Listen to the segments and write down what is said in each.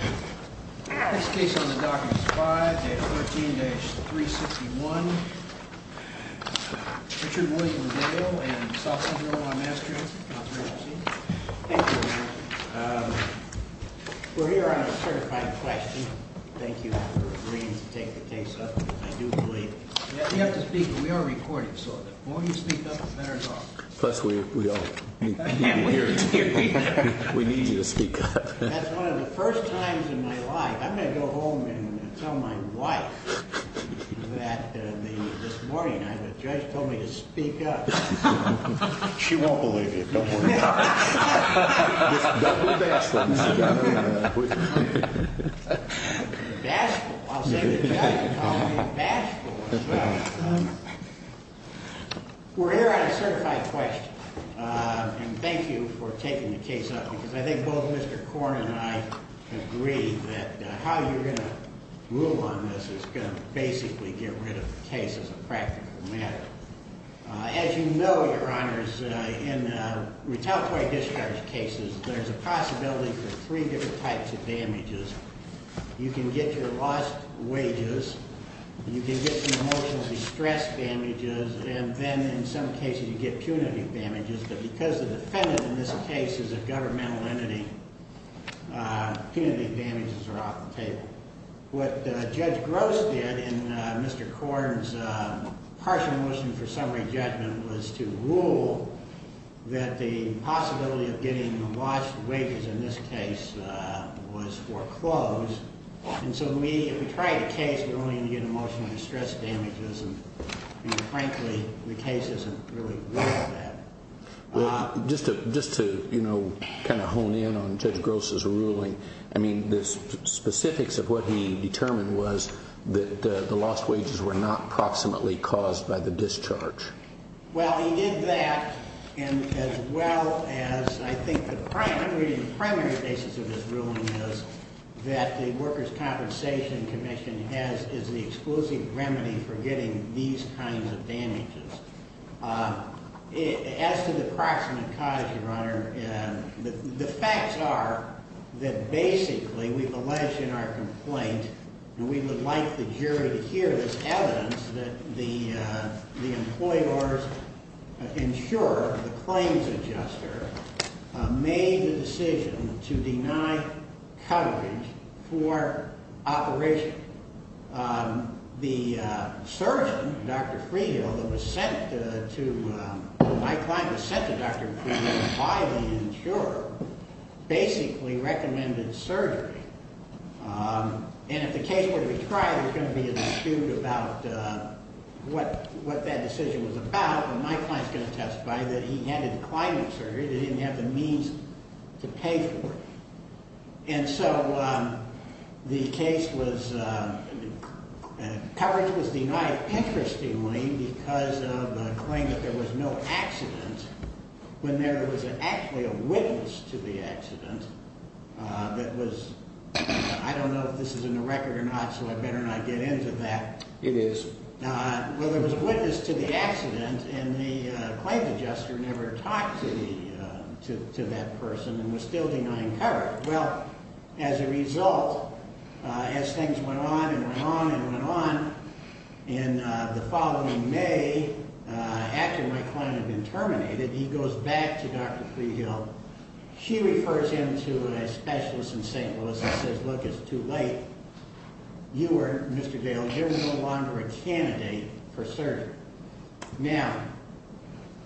We're here on a certified question. Thank you for agreeing to take the case up. I do believe you have to speak. We are recording. So the more you speak up, the better it's going to be. Plus, we need you to speak up. That's one of the first times in my life. I'm going to go home and tell my wife that this morning a judge told me to speak up. She won't believe you. We're here on a certified question. Thank you for taking the case up. I think both Mr. Korn and I agree that how you're going to rule on this is going to basically get rid of the case as a practical matter. As you know, Your Honors, in retaliatory discharge cases, there's a possibility for three different types of damages. You can get your lost wages, you can get some emotional distress damages, and then in some cases you get punitive damages. But because the defendant in this case is a governmental entity, punitive damages are off the table. What Judge Gross did in Mr. Korn's partial motion for summary judgment was to rule that the possibility of getting lost wages in this case was foreclosed. And so if we tried a case, we're only going to get emotional distress damages. And frankly, the case isn't really worth that. Just to kind of hone in on Judge Gross's ruling, I mean, the specifics of what he determined was that the lost wages were not proximately caused by the discharge. Well, he did that as well as I think the primary basis of his ruling is that the Workers' As to the proximate cause, Your Honor, the facts are that basically we've alleged in our complaint, and we would like the jury to hear this evidence, that the employee orders insurer, the claims adjuster, made the decision to deny coverage for operation. The surgeon, Dr. Freehill, that was sent to, my client was sent to Dr. Freehill by the insurer, basically recommended surgery. And if the case were to be tried, there's going to be an issue about what that decision was about. Well, my client's going to testify that he handed the client surgery. They didn't have the means to pay for it. And so the case was, coverage was denied, interestingly, because of a claim that there was no accident when there was actually a witness to the accident that was, I don't know if this is in the record or not, so I better not get into that. It is. Well, there was a witness to the accident and the claims adjuster never talked to that person and was still denying coverage. Well, as a result, as things went on and went on and went on, in the following May, after my client had been terminated, he goes back to Dr. Freehill. She refers him to a specialist in St. Louis and says, look, it's too late. You are, Mr. Gale, you're no longer a candidate for surgery. Now,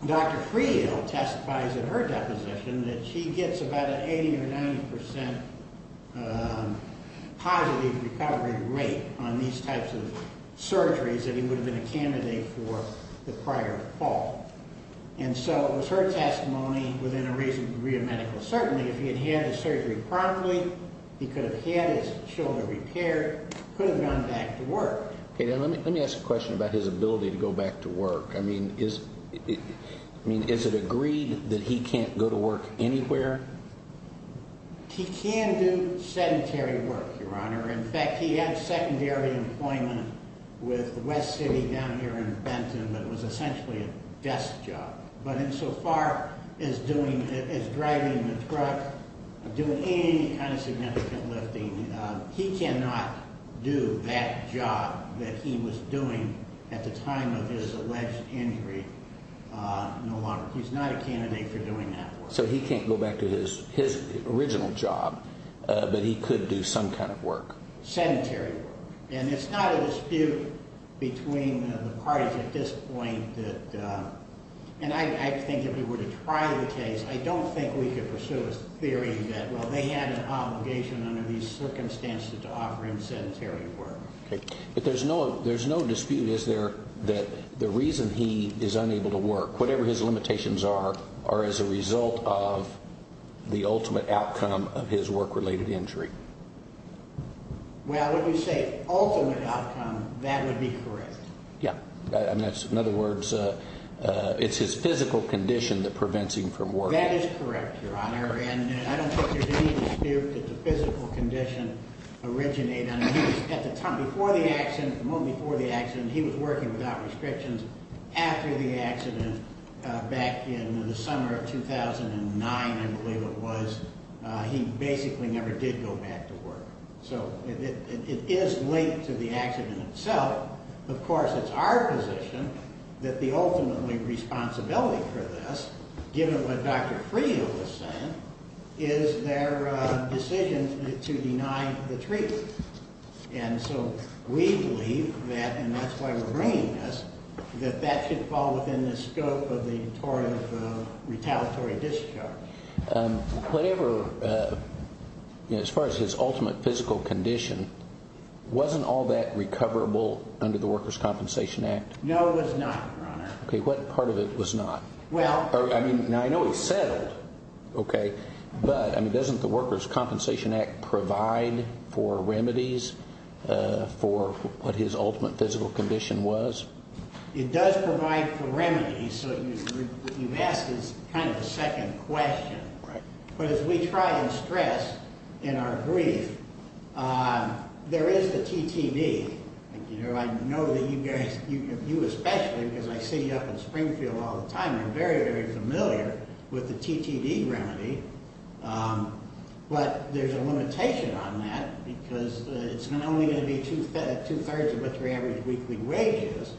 Dr. Freehill testifies in her deposition that she gets about an 80 or 90 percent positive recovery rate on these types of surgeries that he would have been a candidate for the prior fall. And so it was her testimony, within a reasonable degree of medical certainty, if he had had his surgery properly, he could have had his shoulder repaired, could have gone back to work. Okay, now let me ask a question about his ability to go to work anywhere. He can do sedentary work, Your Honor. In fact, he had secondary employment with West City down here in Benton, but it was essentially a desk job. But in so far as doing, as driving the truck, doing any kind of significant lifting, he cannot do that job that he was doing at the time of his alleged injury no longer. He's not a candidate for doing that work. So he can't go back to his original job, but he could do some kind of work. Sedentary work. And it's not a dispute between the parties at this point that, and I think if we were to try the case, I don't think we could pursue a theory that, well, they had an obligation under these circumstances to offer him sedentary work. But there's no dispute, is there, that the reason he is unable to work, whatever his limitations are, are as a result of the ultimate outcome of his work-related injury? Well, when you say ultimate outcome, that would be correct. Yeah. And that's, in other words, it's his physical condition that prevents him from working. That is correct, Your Honor. And I don't think there's any dispute that the physical condition originated on him. He was, at the time, before the accident, the moment before the accident, he was working without restrictions after the accident back in the summer of 2009, I believe it was. He basically never did go back to work. So it is linked to the accident itself. Of course, it's our position that the ultimate responsibility for this, given what Dr. Freo was saying, is their decision to deny the treatment. And so we believe that, and that's why we're bringing this, that that should fall within the scope of the retaliatory discharge. Whatever, as far as his ultimate physical condition, wasn't all that recoverable under the Workers' Compensation Act? No, it was not, Your Honor. Okay, what part of it was not? Well, I mean, now I know he's settled, okay, but, I mean, doesn't the Workers' Compensation Act provide for remedies for what his ultimate physical condition was? It does provide for remedies, so what you've asked is kind of a second question. Right. But as we try and stress in our brief, there is the TTD. You know, I know that you guys, you especially, because I see you up in Springfield all the time, you're very, very familiar with the TTD remedy, but there's a limitation on that because it's not only going to be two-thirds of what your average weekly wage is,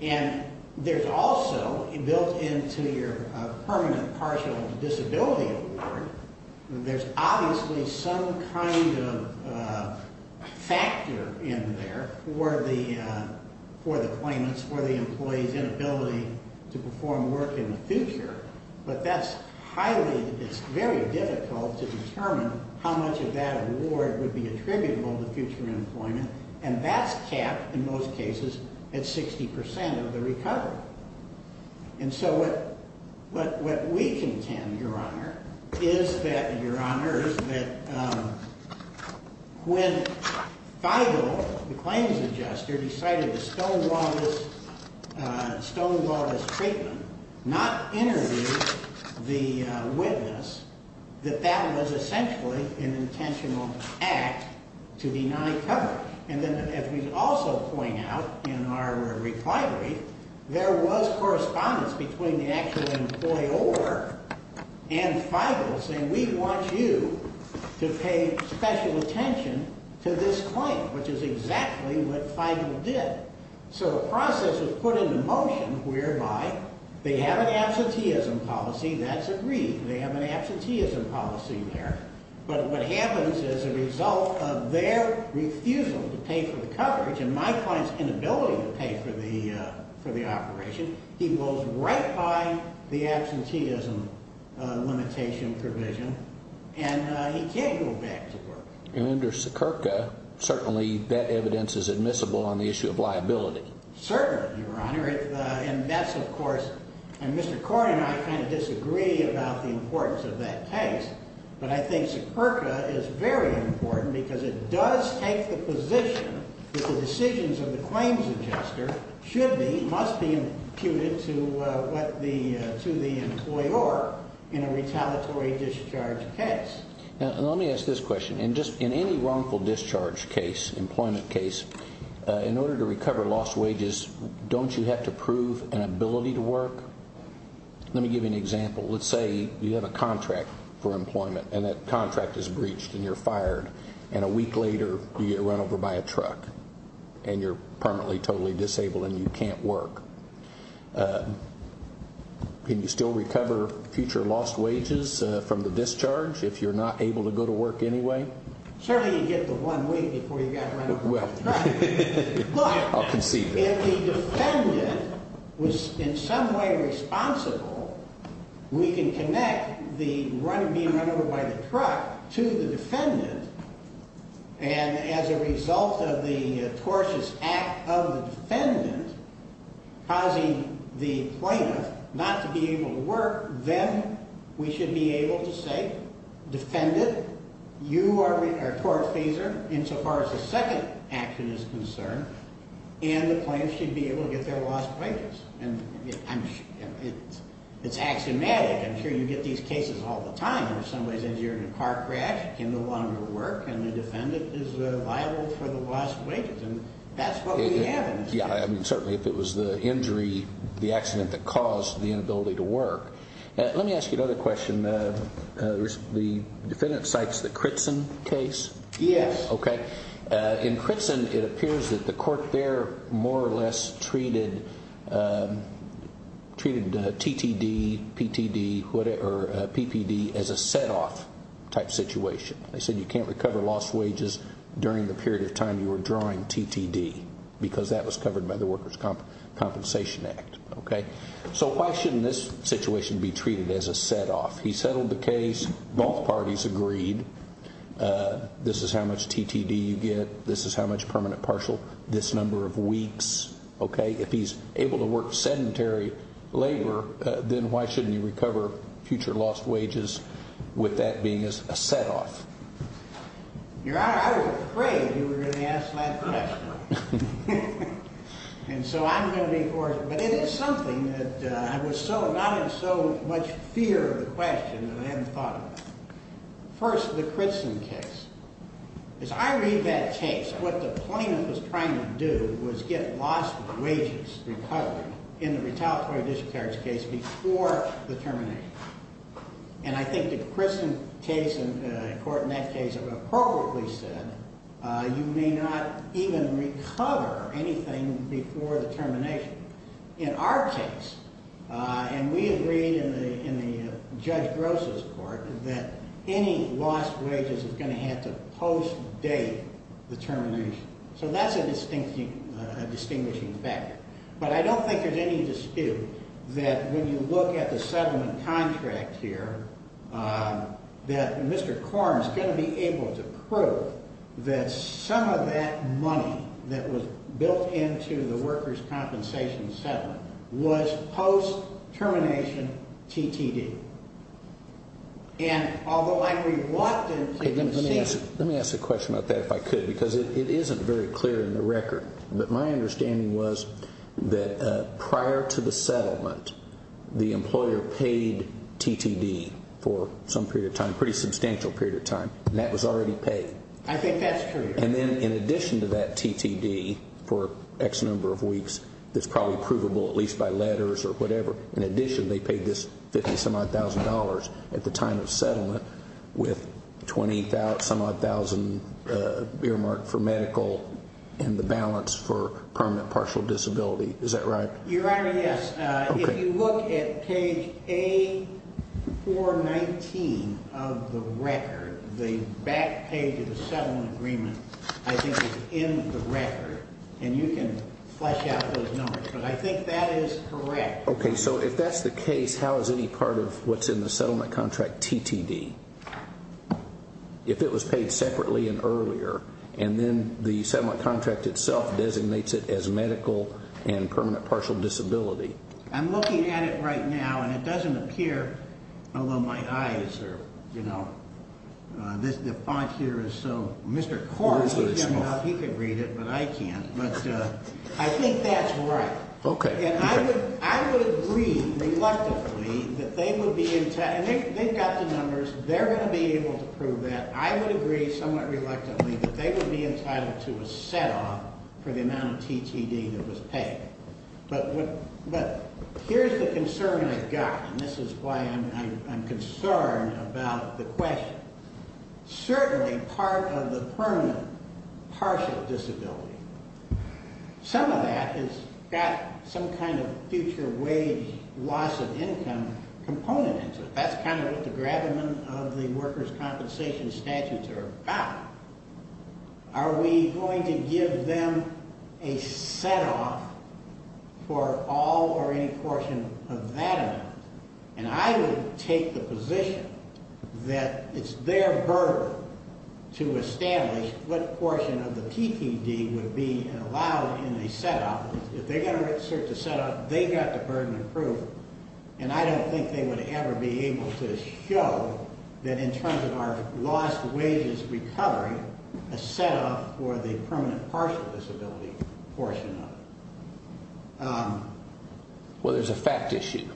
and there's also, built into your permanent partial disability award, there's obviously some kind of factor in there for the, for the claimants, for the employee's inability to perform work in the future, but that's highly, it's very difficult to determine how much of that award would be attributable to future employment, and that's capped, in most cases, at 60% of the recovery. And so what, what, what we contend, Your Honor, is that, Your Honors, that when Feigl, the claims adjuster, decided to stonewall this, stonewall this treatment, not interview the witness, that that was essentially an intentional act to deny coverage. And then as we also point out in our recovery, there was correspondence between the actual employer and Feigl saying, we want you to pay special attention to this claim, which is exactly what Feigl did. So the process was put into motion whereby they have an absenteeism policy, that's agreed, they have an absenteeism policy there, but what happens as a result of their refusal to pay for the coverage, and my client's inability to pay for the, for the operation, he goes right by the absenteeism limitation provision, and he can't go back to work. And under Sekirka, certainly that evidence is admissible on the issue of liability. Certainly, Your Honor, and that's of course, and Mr. Corey and I kind of disagree about the importance of that case, but I think Sekirka is very important because it does take the position that the decisions of the claims adjuster should be, must be imputed to what the, to the employer in a retaliatory discharge case. Now, let me ask this question. In just, in any wrongful discharge case, employment case, in order to recover lost wages, don't you have to prove an ability to work? Let me give you an example. Let's say you have a contract for employment, and that contract is breached and you're fired, and a week later you get run over by a truck, and you're permanently totally disabled and you can't work. Can you still recover future lost wages from the discharge if you're not able to go to work anyway? Certainly you get the one week before you get run over by the truck. Well, I'll concede that. Look, if the defendant was in some way responsible, we can connect the run, being run over by the truck to the defendant, and as a result of the tortious act of the defendant causing the plaintiff not to be able to work, then we should be able to say, defendant, you are a tortfeasor insofar as the second action is concerned, and the plaintiff should be able to get their lost wages. And it's axiomatic. I'm sure you get these cases all the time where somebody says you're in a car crash, you can no longer work, and the defendant is liable for the lost wages. And that's what we have in this case. Yeah, certainly if it was the injury, the accident that caused the inability to work. Let me ask you another question. The defendant cites the Critson case? Yes. Okay. In Critson, it appears that the court there more or less treated TTD, PTD, or PPD as a set-off type situation. They said you can't recover lost wages during the period of time you were drawing TTD, because that was covered by the Workers' Compensation Act. So why shouldn't this situation be treated as a set-off? He settled the case, both parties agreed, this is how much TTD you get, this is how much permanent partial, this number of weeks. If he's able to work sedentary labor, then why shouldn't you recover future lost wages with that being a set-off? Your Honor, I was afraid you were going to ask that question. And so I'm going to be forced, but it is something that I was so, not in so much fear of the question that I hadn't thought about. First, the Critson case. As I read that case, what the plaintiff was trying to do was get lost wages recovered in the retaliatory discharge case before the termination. And I think the Critson case, in court in that case, appropriately said, you may not even recover anything before the termination. In our case, and we agreed in the Judge Gross's court, that any lost wages is going to have to post-date the termination. So that's a distinguishing factor. But I don't think there's any dispute that when you look at the settlement contract here, that Mr. Korn's going to be able to prove that some of that money that was built into the workers' compensation settlement was post-termination T.T.D. And although I agree with what the plaintiff is saying... Let me ask a question about that if I could, because it isn't very clear in the record. But my understanding was that prior to the settlement, the employer paid T.T.D. for some period of time, a pretty substantial period of time, and that was already paid. I think that's true, Your Honor. And then in addition to that T.T.D. for X number of weeks, that's probably provable at least by letters or whatever. In addition, they paid this $50,000 at the time of settlement with $20,000 earmarked for medical and the balance for permanent partial disability. Is that right? Your Honor, yes. If you look at page A419 of the record, the back page of the settlement agreement, I think it's in the record, and you can flesh out those numbers, but I think that is correct. Okay, so if that's the case, how is any part of what's in the settlement contract T.T.D.? If it was paid separately and earlier, and then the settlement contract itself designates it as medical and permanent partial disability? I'm looking at it right now, and it doesn't appear, although my eyes are, you know... The font here is so... Mr. Cornyn can read it, but I can't. But I think that's right. Okay. And I would agree reluctantly that they would be entitled... They've got the numbers. They're going to be able to prove that. I would agree somewhat reluctantly that they would be entitled to a set-off for the amount of T.T.D. that was paid. But here's the concern I've got, and this is why I'm concerned about the question. Certainly part of the permanent partial disability... Some of that has got some kind of future wage loss of income component into it. That's kind of what the gravamen of the workers' compensation statutes are about. Are we going to give them a set-off for all or any portion of that amount? And I would take the position that it's their burden to establish what portion of the T.T.D. would be allowed in a set-off. If they're going to search a set-off, they've got the burden of proof, and I don't think they would ever be able to show that in terms of our lost wages recovery, a set-off for the permanent partial disability portion of it. Well, there's a fact issue.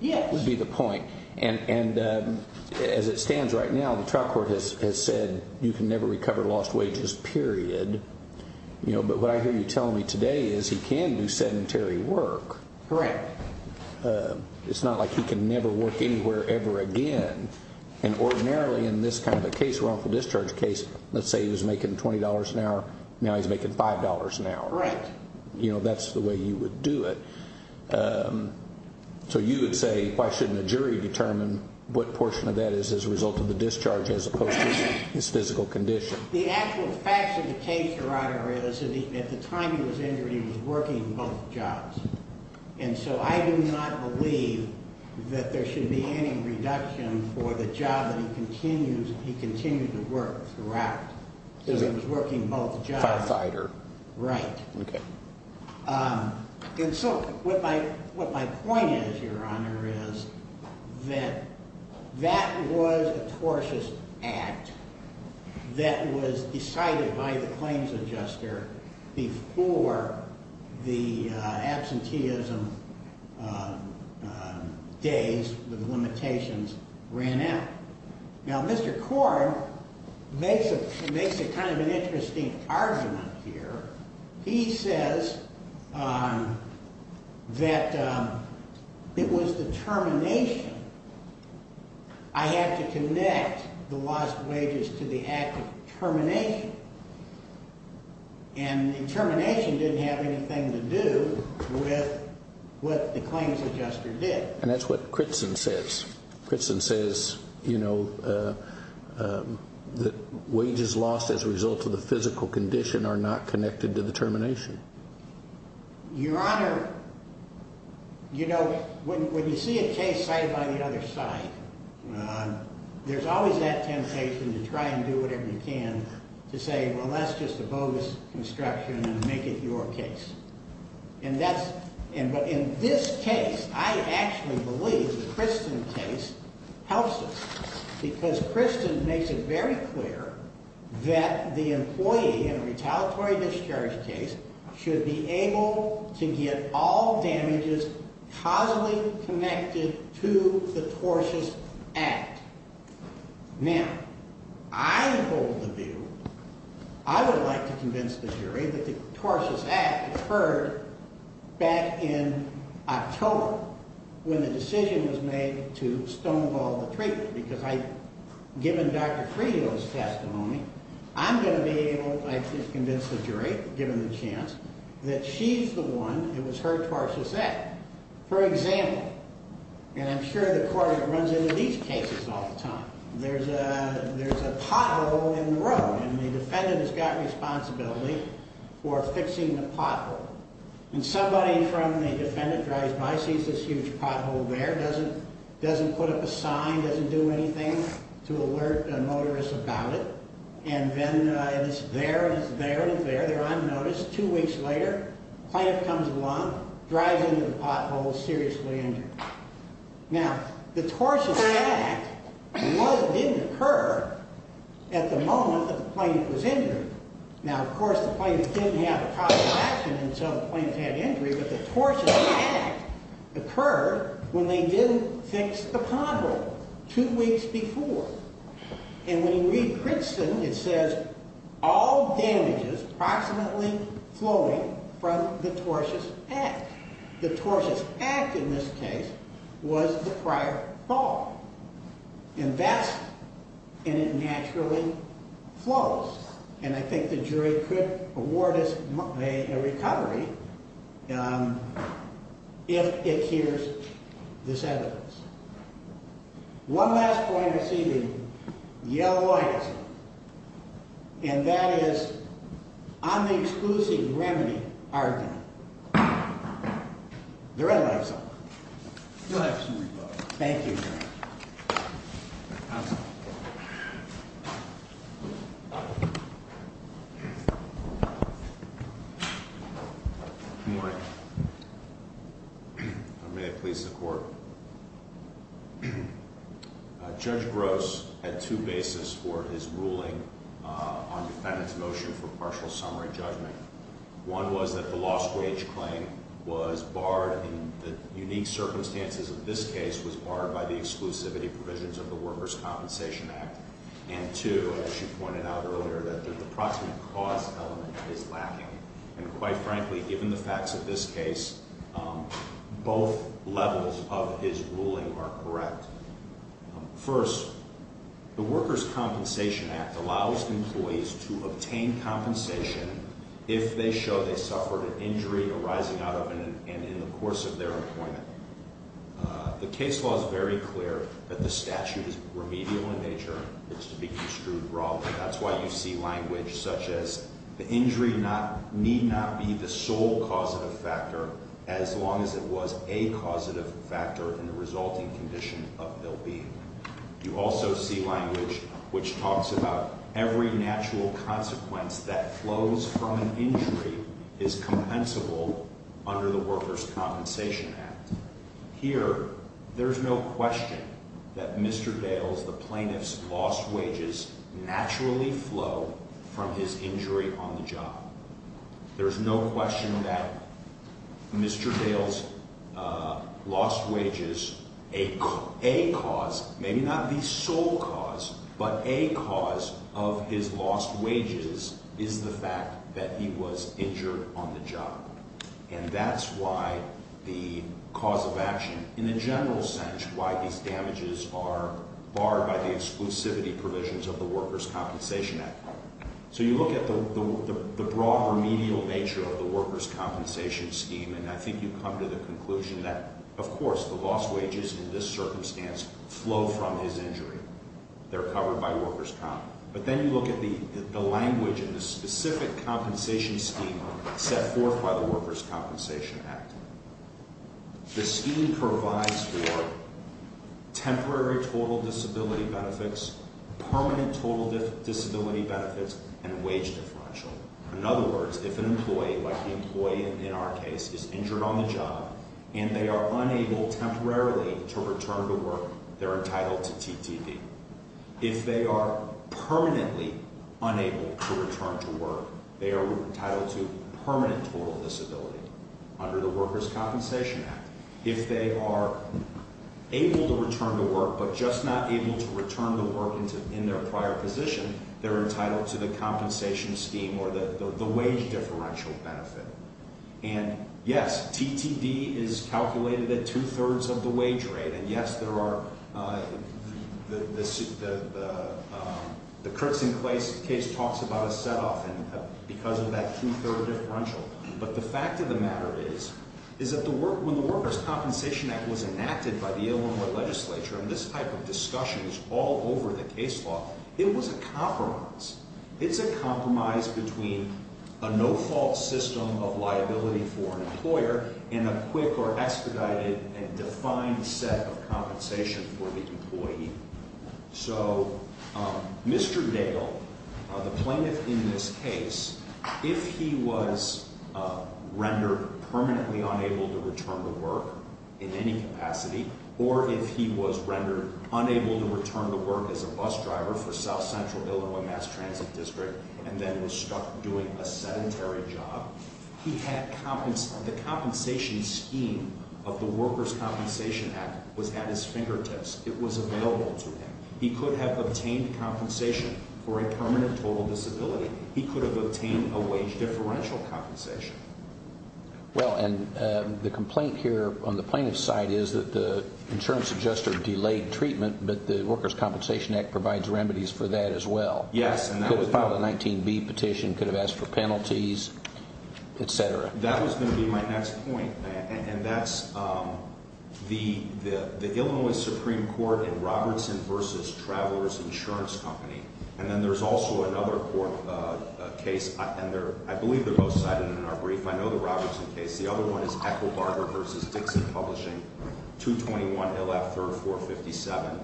Yes. Would be the point. And as it stands right now, the trial court has said you can never recover lost wages, period. But what I hear you telling me today is he can do sedentary work. Correct. It's not like he can never work anywhere ever again. And ordinarily in this kind of a case, wrongful discharge case, let's say he was making $20 an hour, now he's making $5 an hour. Correct. You know, that's the way you would do it. So you would say, why shouldn't a jury determine what portion of that is as a result of the discharge as opposed to his physical condition? The actual facts of the case, Your Honor, is that at the time he was injured, he was working both jobs. And so I do not believe that there should be any reduction for the job that he continues to work throughout. He was working both jobs. Firefighter. Right. Okay. And so what my point is, Your Honor, is that that was a tortious act that was decided by the claims adjuster before the absenteeism days with limitations ran out. Now, Mr. Korn makes a kind of an interesting argument here. He says that it was the termination. I had to connect the lost wages to the act of termination. And the termination didn't have anything to do with what the claims adjuster did. And that's what Critson says. Critson says, you know, that wages lost as a result of the physical condition are not connected to the termination. Your Honor, you know, when you see a case side by the other side, there's always that temptation to try and do whatever you can to say, well, that's just a bogus construction and make it your case. But in this case, I actually believe the Critson case helps us. Because Critson makes it very clear that the employee in a retaliatory discharge case should be able to get all damages causally connected to the tortious act. Now, I hold the view, I would like to convince the jury that the tortious act occurred back in October when the decision was made to stonewall the treatment. Because given Dr. Friedo's testimony, I'm going to be able to convince the jury, given the chance, that she's the one, it was her tortious act. For example, and I'm sure the court runs into these cases all the time, there's a pothole in the road and the defendant has got responsibility for fixing the pothole. And somebody from the defendant drives by, sees this huge pothole there, doesn't put up a sign, doesn't do anything to alert a motorist about it. And then it's there, and it's there, and it's there. They're on notice. Two weeks later, the plaintiff comes along, drives into the pothole, seriously injured. Now, the tortious act didn't occur at the moment that the plaintiff was injured. Now, of course, the plaintiff didn't have a cause of action until the plaintiff had injury. But the tortious act occurred when they didn't fix the pothole two weeks before. And when you read Princeton, it says, all damages approximately flowing from the tortious act. The tortious act, in this case, was the prior fall. And that's, and it naturally flows. And I think the jury could award us a recovery if it hears this evidence. One last point I see the yellow light is on. And that is, on the exclusive remedy argument. The red light is on. You'll have some rebuttal. Thank you, Your Honor. Good morning. May it please the Court. Judge Gross had two bases for his ruling on defendant's motion for partial summary judgment. One was that the lost wage claim was barred in the unique circumstances of this case, was barred by the exclusivity provisions of the Workers' Compensation Act. And two, as you pointed out earlier, that the approximate cause element is lacking. And quite frankly, given the facts of this case, both levels of his ruling are correct. First, the Workers' Compensation Act allows employees to obtain compensation if they show they suffered an injury arising out of and in the course of their employment. The case law is very clear that the statute is remedial in nature. It's to be construed broadly. That's why you see language such as the injury need not be the sole causative factor as long as it was a causative factor in the resulting condition of ill-being. You also see language which talks about every natural consequence that flows from an injury is compensable under the Workers' Compensation Act. Here, there's no question that Mr. Dales, the plaintiff's lost wages, naturally flow from his injury on the job. There's no question that Mr. Dales' lost wages, a cause, maybe not the sole cause, but a cause of his lost wages is the fact that he was injured on the job. And that's why the cause of action, in a general sense, why these damages are barred by the exclusivity provisions of the Workers' Compensation Act. So you look at the broad remedial nature of the Workers' Compensation Scheme, and I think you come to the conclusion that, of course, the lost wages in this circumstance flow from his injury. They're covered by Workers' Comp. But then you look at the language in the specific compensation scheme set forth by the Workers' Compensation Act. The scheme provides for temporary total disability benefits, permanent total disability benefits, and a wage differential. In other words, if an employee, like the employee in our case, is injured on the job, and they are unable temporarily to return to work, they're entitled to TTP. If they are permanently unable to return to work, they are entitled to permanent total disability under the Workers' Compensation Act. If they are able to return to work, but just not able to return to work in their prior position, they're entitled to the compensation scheme or the wage differential benefit. And, yes, TTD is calculated at two-thirds of the wage rate, and, yes, the Kurtz and Clay case talks about a set-off because of that two-third differential. But the fact of the matter is that when the Workers' Compensation Act was enacted by the Illinois legislature and this type of discussion was all over the case law, it was a compromise. It's a compromise between a no-fault system of liability for an employer and a quick or expedited and defined set of compensation for the employee. So Mr. Dale, the plaintiff in this case, if he was rendered permanently unable to return to work in any capacity, or if he was rendered unable to return to work as a bus driver for South Central Illinois Mass Transit District and then was stuck doing a sedentary job, the compensation scheme of the Workers' Compensation Act was at his fingertips. It was available to him. He could have obtained compensation for a permanent total disability. He could have obtained a wage differential compensation. Well, and the complaint here on the plaintiff's side is that the insurance adjuster delayed treatment, but the Workers' Compensation Act provides remedies for that as well. Yes. Could have filed a 19B petition, could have asked for penalties, et cetera. That was going to be my next point, and that's the Illinois Supreme Court in Robertson v. Travelers Insurance Company. And then there's also another court case, and I believe they're both cited in our brief. I know the Robertson case. The other one is Echo Barger v. Dixon Publishing, 221 LF 3457.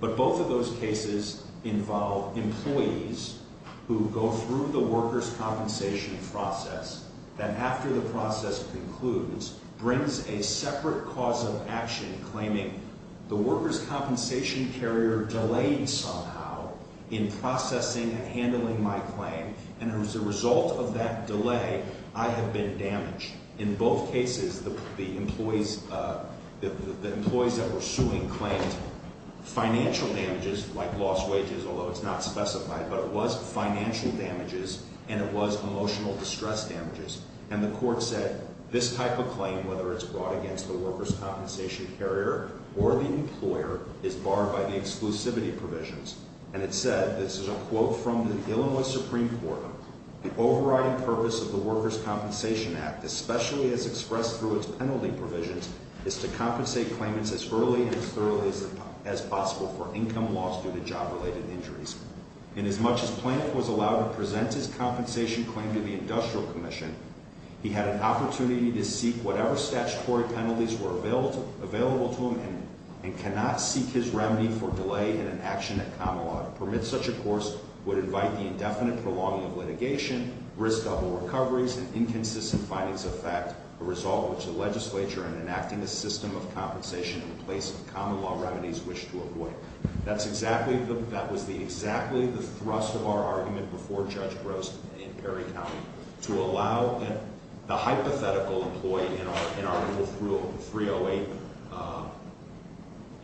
But both of those cases involve employees who go through the workers' compensation process, that after the process concludes, brings a separate cause of action claiming the workers' compensation carrier delayed somehow in processing and handling my claim, and as a result of that delay, I have been damaged. In both cases, the employees that were suing claimed financial damages like lost wages, although it's not specified, but it was financial damages and it was emotional distress damages. And the court said this type of claim, whether it's brought against the workers' compensation carrier or the employer, is barred by the exclusivity provisions. And it said, this is a quote from the Illinois Supreme Court, the overriding purpose of the Workers' Compensation Act, especially as expressed through its penalty provisions, is to compensate claimants as early and as thoroughly as possible for income loss due to job-related injuries. And as much as Plante was allowed to present his compensation claim to the Industrial Commission, he had an opportunity to seek whatever statutory penalties were available to him and cannot seek his remedy for delay in an action at common law. To permit such a course would invite the indefinite prolonging of litigation, risk double recoveries, and inconsistent findings of fact, a result of which the legislature, in enacting a system of compensation in place of common law remedies, wished to avoid. That was exactly the thrust of our argument before Judge Gross in Perry County, to allow the hypothetical employee in Article 308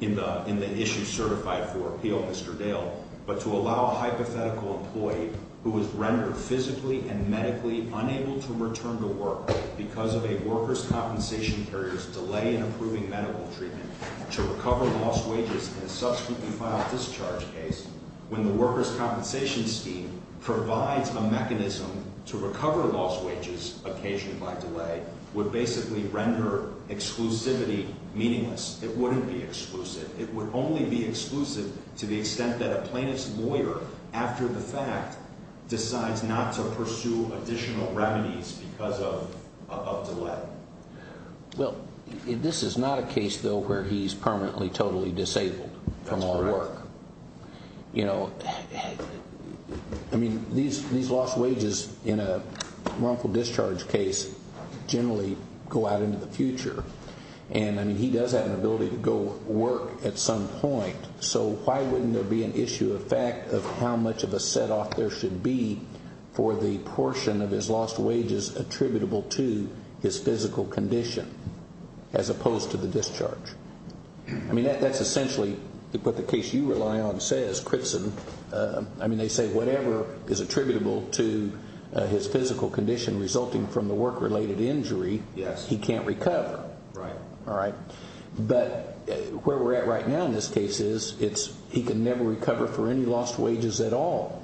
in the issue certified for appeal, Mr. Dale. But to allow a hypothetical employee who was rendered physically and medically unable to return to work because of a workers' compensation carrier's delay in approving medical treatment. To recover lost wages in a subsequently filed discharge case when the workers' compensation scheme provides a mechanism to recover lost wages, occasionally by delay, would basically render exclusivity meaningless. It wouldn't be exclusive. It would only be exclusive to the extent that a plaintiff's lawyer, after the fact, decides not to pursue additional remedies because of delay. Well, this is not a case, though, where he's permanently, totally disabled from all work. That's correct. You know, I mean, these lost wages in a wrongful discharge case generally go out into the future. And, I mean, he does have an ability to go work at some point. So why wouldn't there be an issue of fact of how much of a set-off there should be for the portion of his lost wages attributable to his physical condition, as opposed to the discharge? I mean, that's essentially what the case you rely on says, Critson. I mean, they say whatever is attributable to his physical condition resulting from the work-related injury, he can't recover. Right. All right. But where we're at right now in this case is he can never recover for any lost wages at all.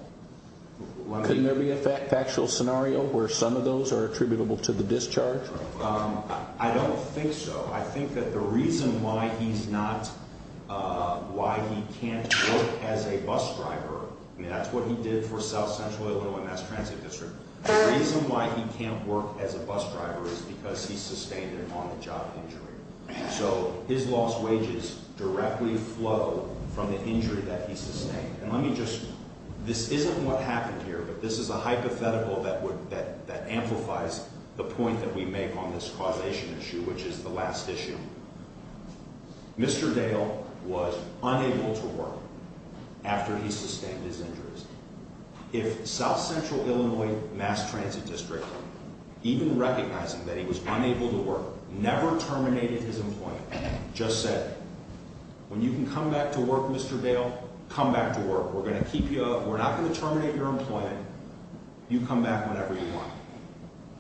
Couldn't there be a factual scenario where some of those are attributable to the discharge? I don't think so. I think that the reason why he's not, why he can't work as a bus driver, I mean, that's what he did for South Central Illinois Mass Transit District. The reason why he can't work as a bus driver is because he sustained an on-the-job injury. So his lost wages directly flow from the injury that he sustained. And let me just, this isn't what happened here, but this is a hypothetical that amplifies the point that we make on this causation issue, which is the last issue. Mr. Dale was unable to work after he sustained his injuries. If South Central Illinois Mass Transit District, even recognizing that he was unable to work, never terminated his employment, just said, when you can come back to work, Mr. Dale, come back to work. We're not going to terminate your employment. You come back whenever you want.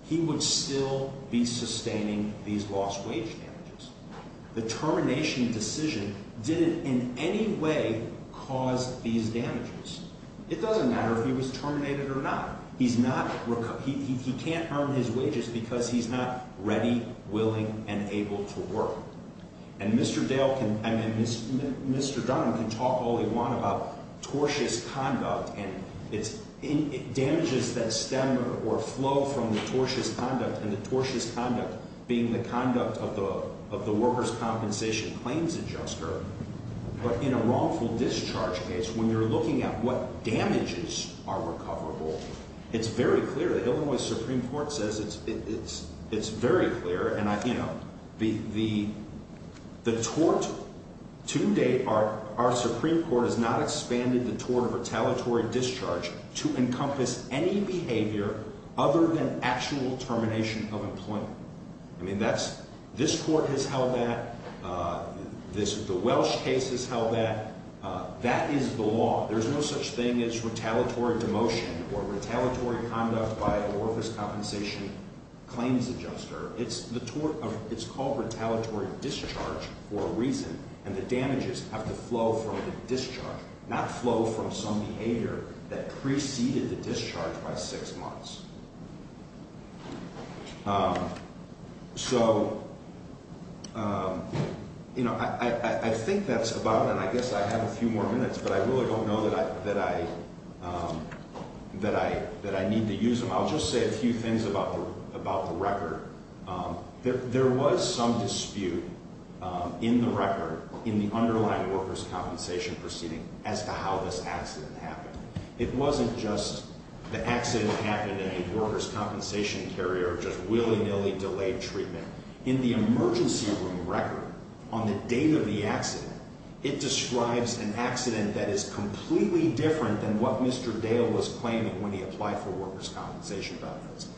He would still be sustaining these lost wage damages. The termination decision didn't in any way cause these damages. It doesn't matter if he was terminated or not. He's not, he can't earn his wages because he's not ready, willing, and able to work. And Mr. Dale can, I mean, Mr. Dunham can talk all he want about tortious conduct and damages that stem or flow from the tortious conduct, and the tortious conduct being the conduct of the worker's compensation claims adjuster. But in a wrongful discharge case, when you're looking at what damages are recoverable, it's very clear. The Illinois Supreme Court says it's very clear, and the tort to date, our Supreme Court has not expanded the tort of retaliatory discharge to encompass any behavior other than actual termination of employment. I mean, this court has held that, the Welsh case has held that. That is the law. There's no such thing as retaliatory demotion or retaliatory conduct by a worker's compensation claims adjuster. It's the tort of, it's called retaliatory discharge for a reason. And the damages have to flow from the discharge, not flow from some behavior that preceded the discharge by six months. So, you know, I think that's about it. I guess I have a few more minutes, but I really don't know that I need to use them. I'll just say a few things about the record. There was some dispute in the record in the underlying worker's compensation proceeding as to how this accident happened. It wasn't just the accident that happened in a worker's compensation carrier, just willy-nilly delayed treatment. In the emergency room record, on the date of the accident, it describes an accident that is completely different than what Mr. Dale was claiming when he applied for worker's compensation benefits.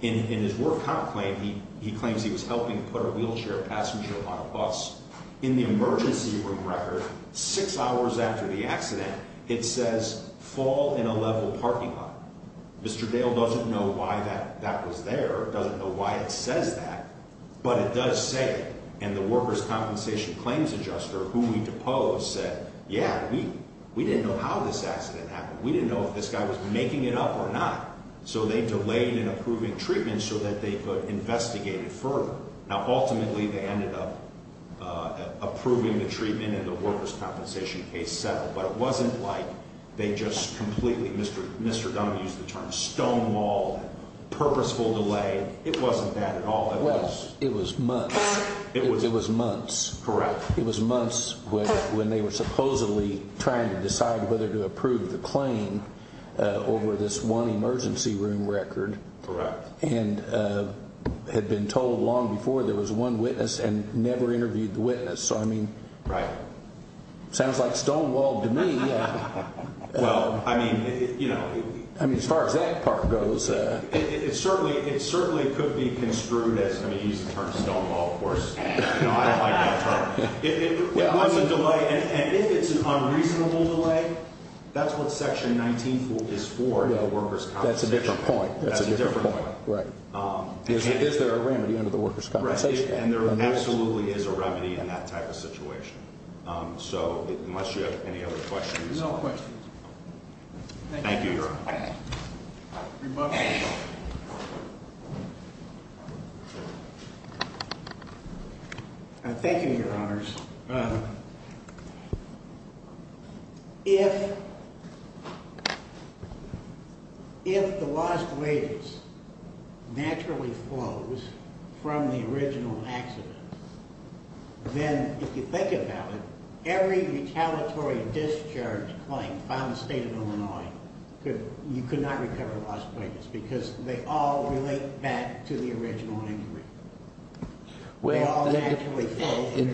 In his work count claim, he claims he was helping put a wheelchair passenger on a bus. In the emergency room record, six hours after the accident, it says, fall in a level parking lot. Mr. Dale doesn't know why that was there, doesn't know why it says that, but it does say it. And the worker's compensation claims adjuster, who we deposed, said, yeah, we didn't know how this accident happened. We didn't know if this guy was making it up or not. So they delayed in approving treatment so that they could investigate it further. Now, ultimately, they ended up approving the treatment and the worker's compensation case settled. But it wasn't like they just completely, Mr. Dunn used the term, stonewalled, purposeful delay. It wasn't that at all. It was months. It was months. Correct. It was months when they were supposedly trying to decide whether to approve the claim over this one emergency room record. Correct. And had been told long before there was one witness and never interviewed the witness. So, I mean. Right. Sounds like stonewalled to me. Well, I mean, you know. I mean, as far as that part goes. It certainly could be construed as, I mean, you used the term stonewalled, of course. You know, I like that term. If it was a delay, and if it's an unreasonable delay, that's what Section 19 is for, the worker's compensation. That's a different point. That's a different point. Right. Is there a remedy under the worker's compensation? Right. And there absolutely is a remedy in that type of situation. So, unless you have any other questions. No questions. Thank you, Your Honor. Thank you, Your Honors. If the lost wages naturally flows from the original accident, then if you think about it, every retaliatory discharge claim found in the State of Illinois, you could not recover lost wages. Because they all relate back to the original injury. Well, it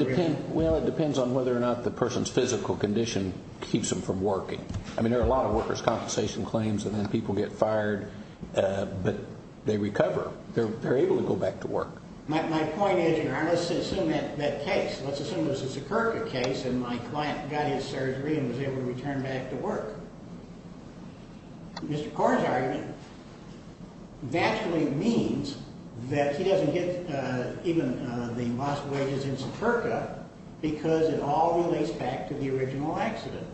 depends on whether or not the person's physical condition keeps them from working. I mean, there are a lot of worker's compensation claims, and then people get fired, but they recover. They're able to go back to work. My point is, Your Honor, let's assume that case. Let's assume it was a Sikirka case, and my client got his surgery and was able to return back to work. Mr. Corr's argument naturally means that he doesn't get even the lost wages in Sikirka because it all relates back to the original accident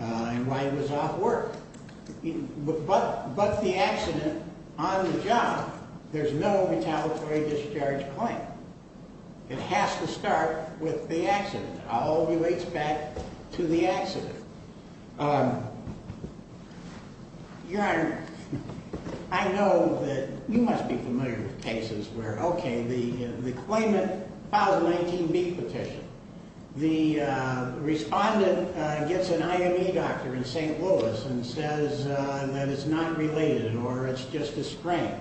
and why he was off work. But the accident on the job, there's no retaliatory discharge claim. It has to start with the accident. Your Honor, I know that you must be familiar with cases where, okay, the claimant filed a 19B petition. The respondent gets an IME doctor in St. Louis and says that it's not related, or it's just a sprain.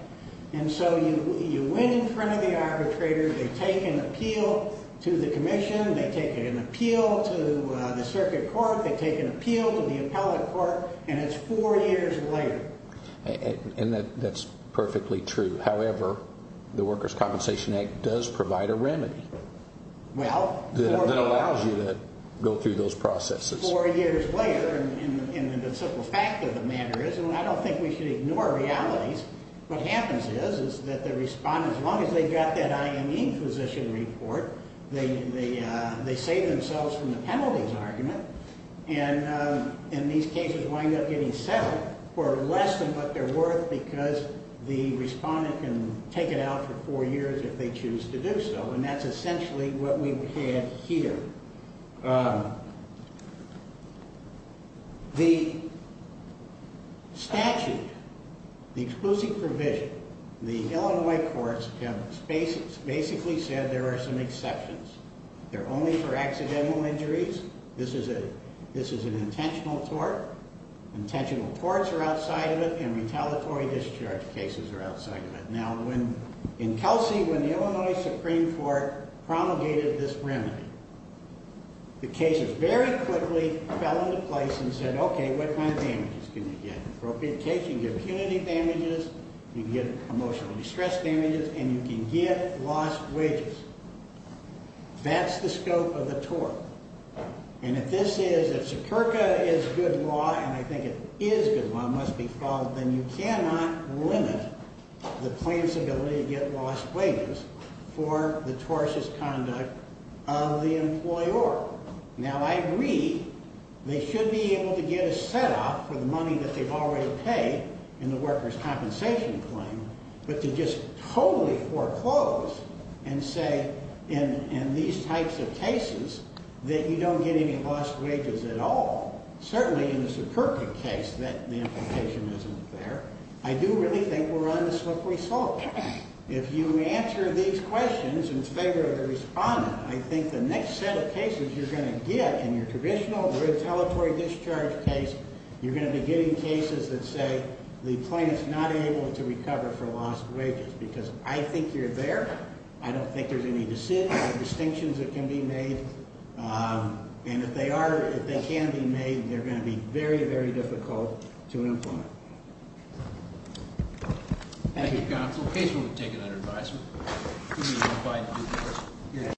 And so you win in front of the arbitrator. They take an appeal to the commission. They take an appeal to the circuit court. They take an appeal to the appellate court, and it's four years later. And that's perfectly true. However, the Workers' Compensation Act does provide a remedy that allows you to go through those processes. Four years later, and the simple fact of the matter is, and I don't think we should ignore realities, what happens is that the respondent, as long as they've got that IME physician report, they save themselves from the penalties argument, and these cases wind up getting settled for less than what they're worth because the respondent can take it out for four years if they choose to do so. And that's essentially what we have here. The statute, the exclusive provision, the Illinois courts have basically said there are some exceptions. They're only for accidental injuries. This is an intentional tort. Intentional torts are outside of it, and retaliatory discharge cases are outside of it. Now, in Kelsey, when the Illinois Supreme Court promulgated this remedy, the cases very quickly fell into place and said, okay, what kind of damages can you get? Appropriate case, you can get punitive damages, you can get emotional distress damages, and you can get lost wages. That's the scope of the tort. And if this is, if superca is good law, and I think it is good law, it must be followed, then you cannot limit the plaintiff's ability to get lost wages for the tortious conduct of the employer. Now, I agree they should be able to get a set-off for the money that they've already paid in the worker's compensation claim, but to just totally foreclose and say, in these types of cases, that you don't get any lost wages at all, certainly in the superca case that the implication isn't there, I do really think we're on the slippery slope. If you answer these questions in favor of the respondent, I think the next set of cases you're going to get in your traditional retaliatory discharge case, you're going to be getting cases that say the plaintiff's not able to recover for lost wages because I think you're there, I don't think there's any distinctions that can be made, and if they are, if they can be made, they're going to be very, very difficult to implement. Thank you, counsel. Case will be taken under advisement.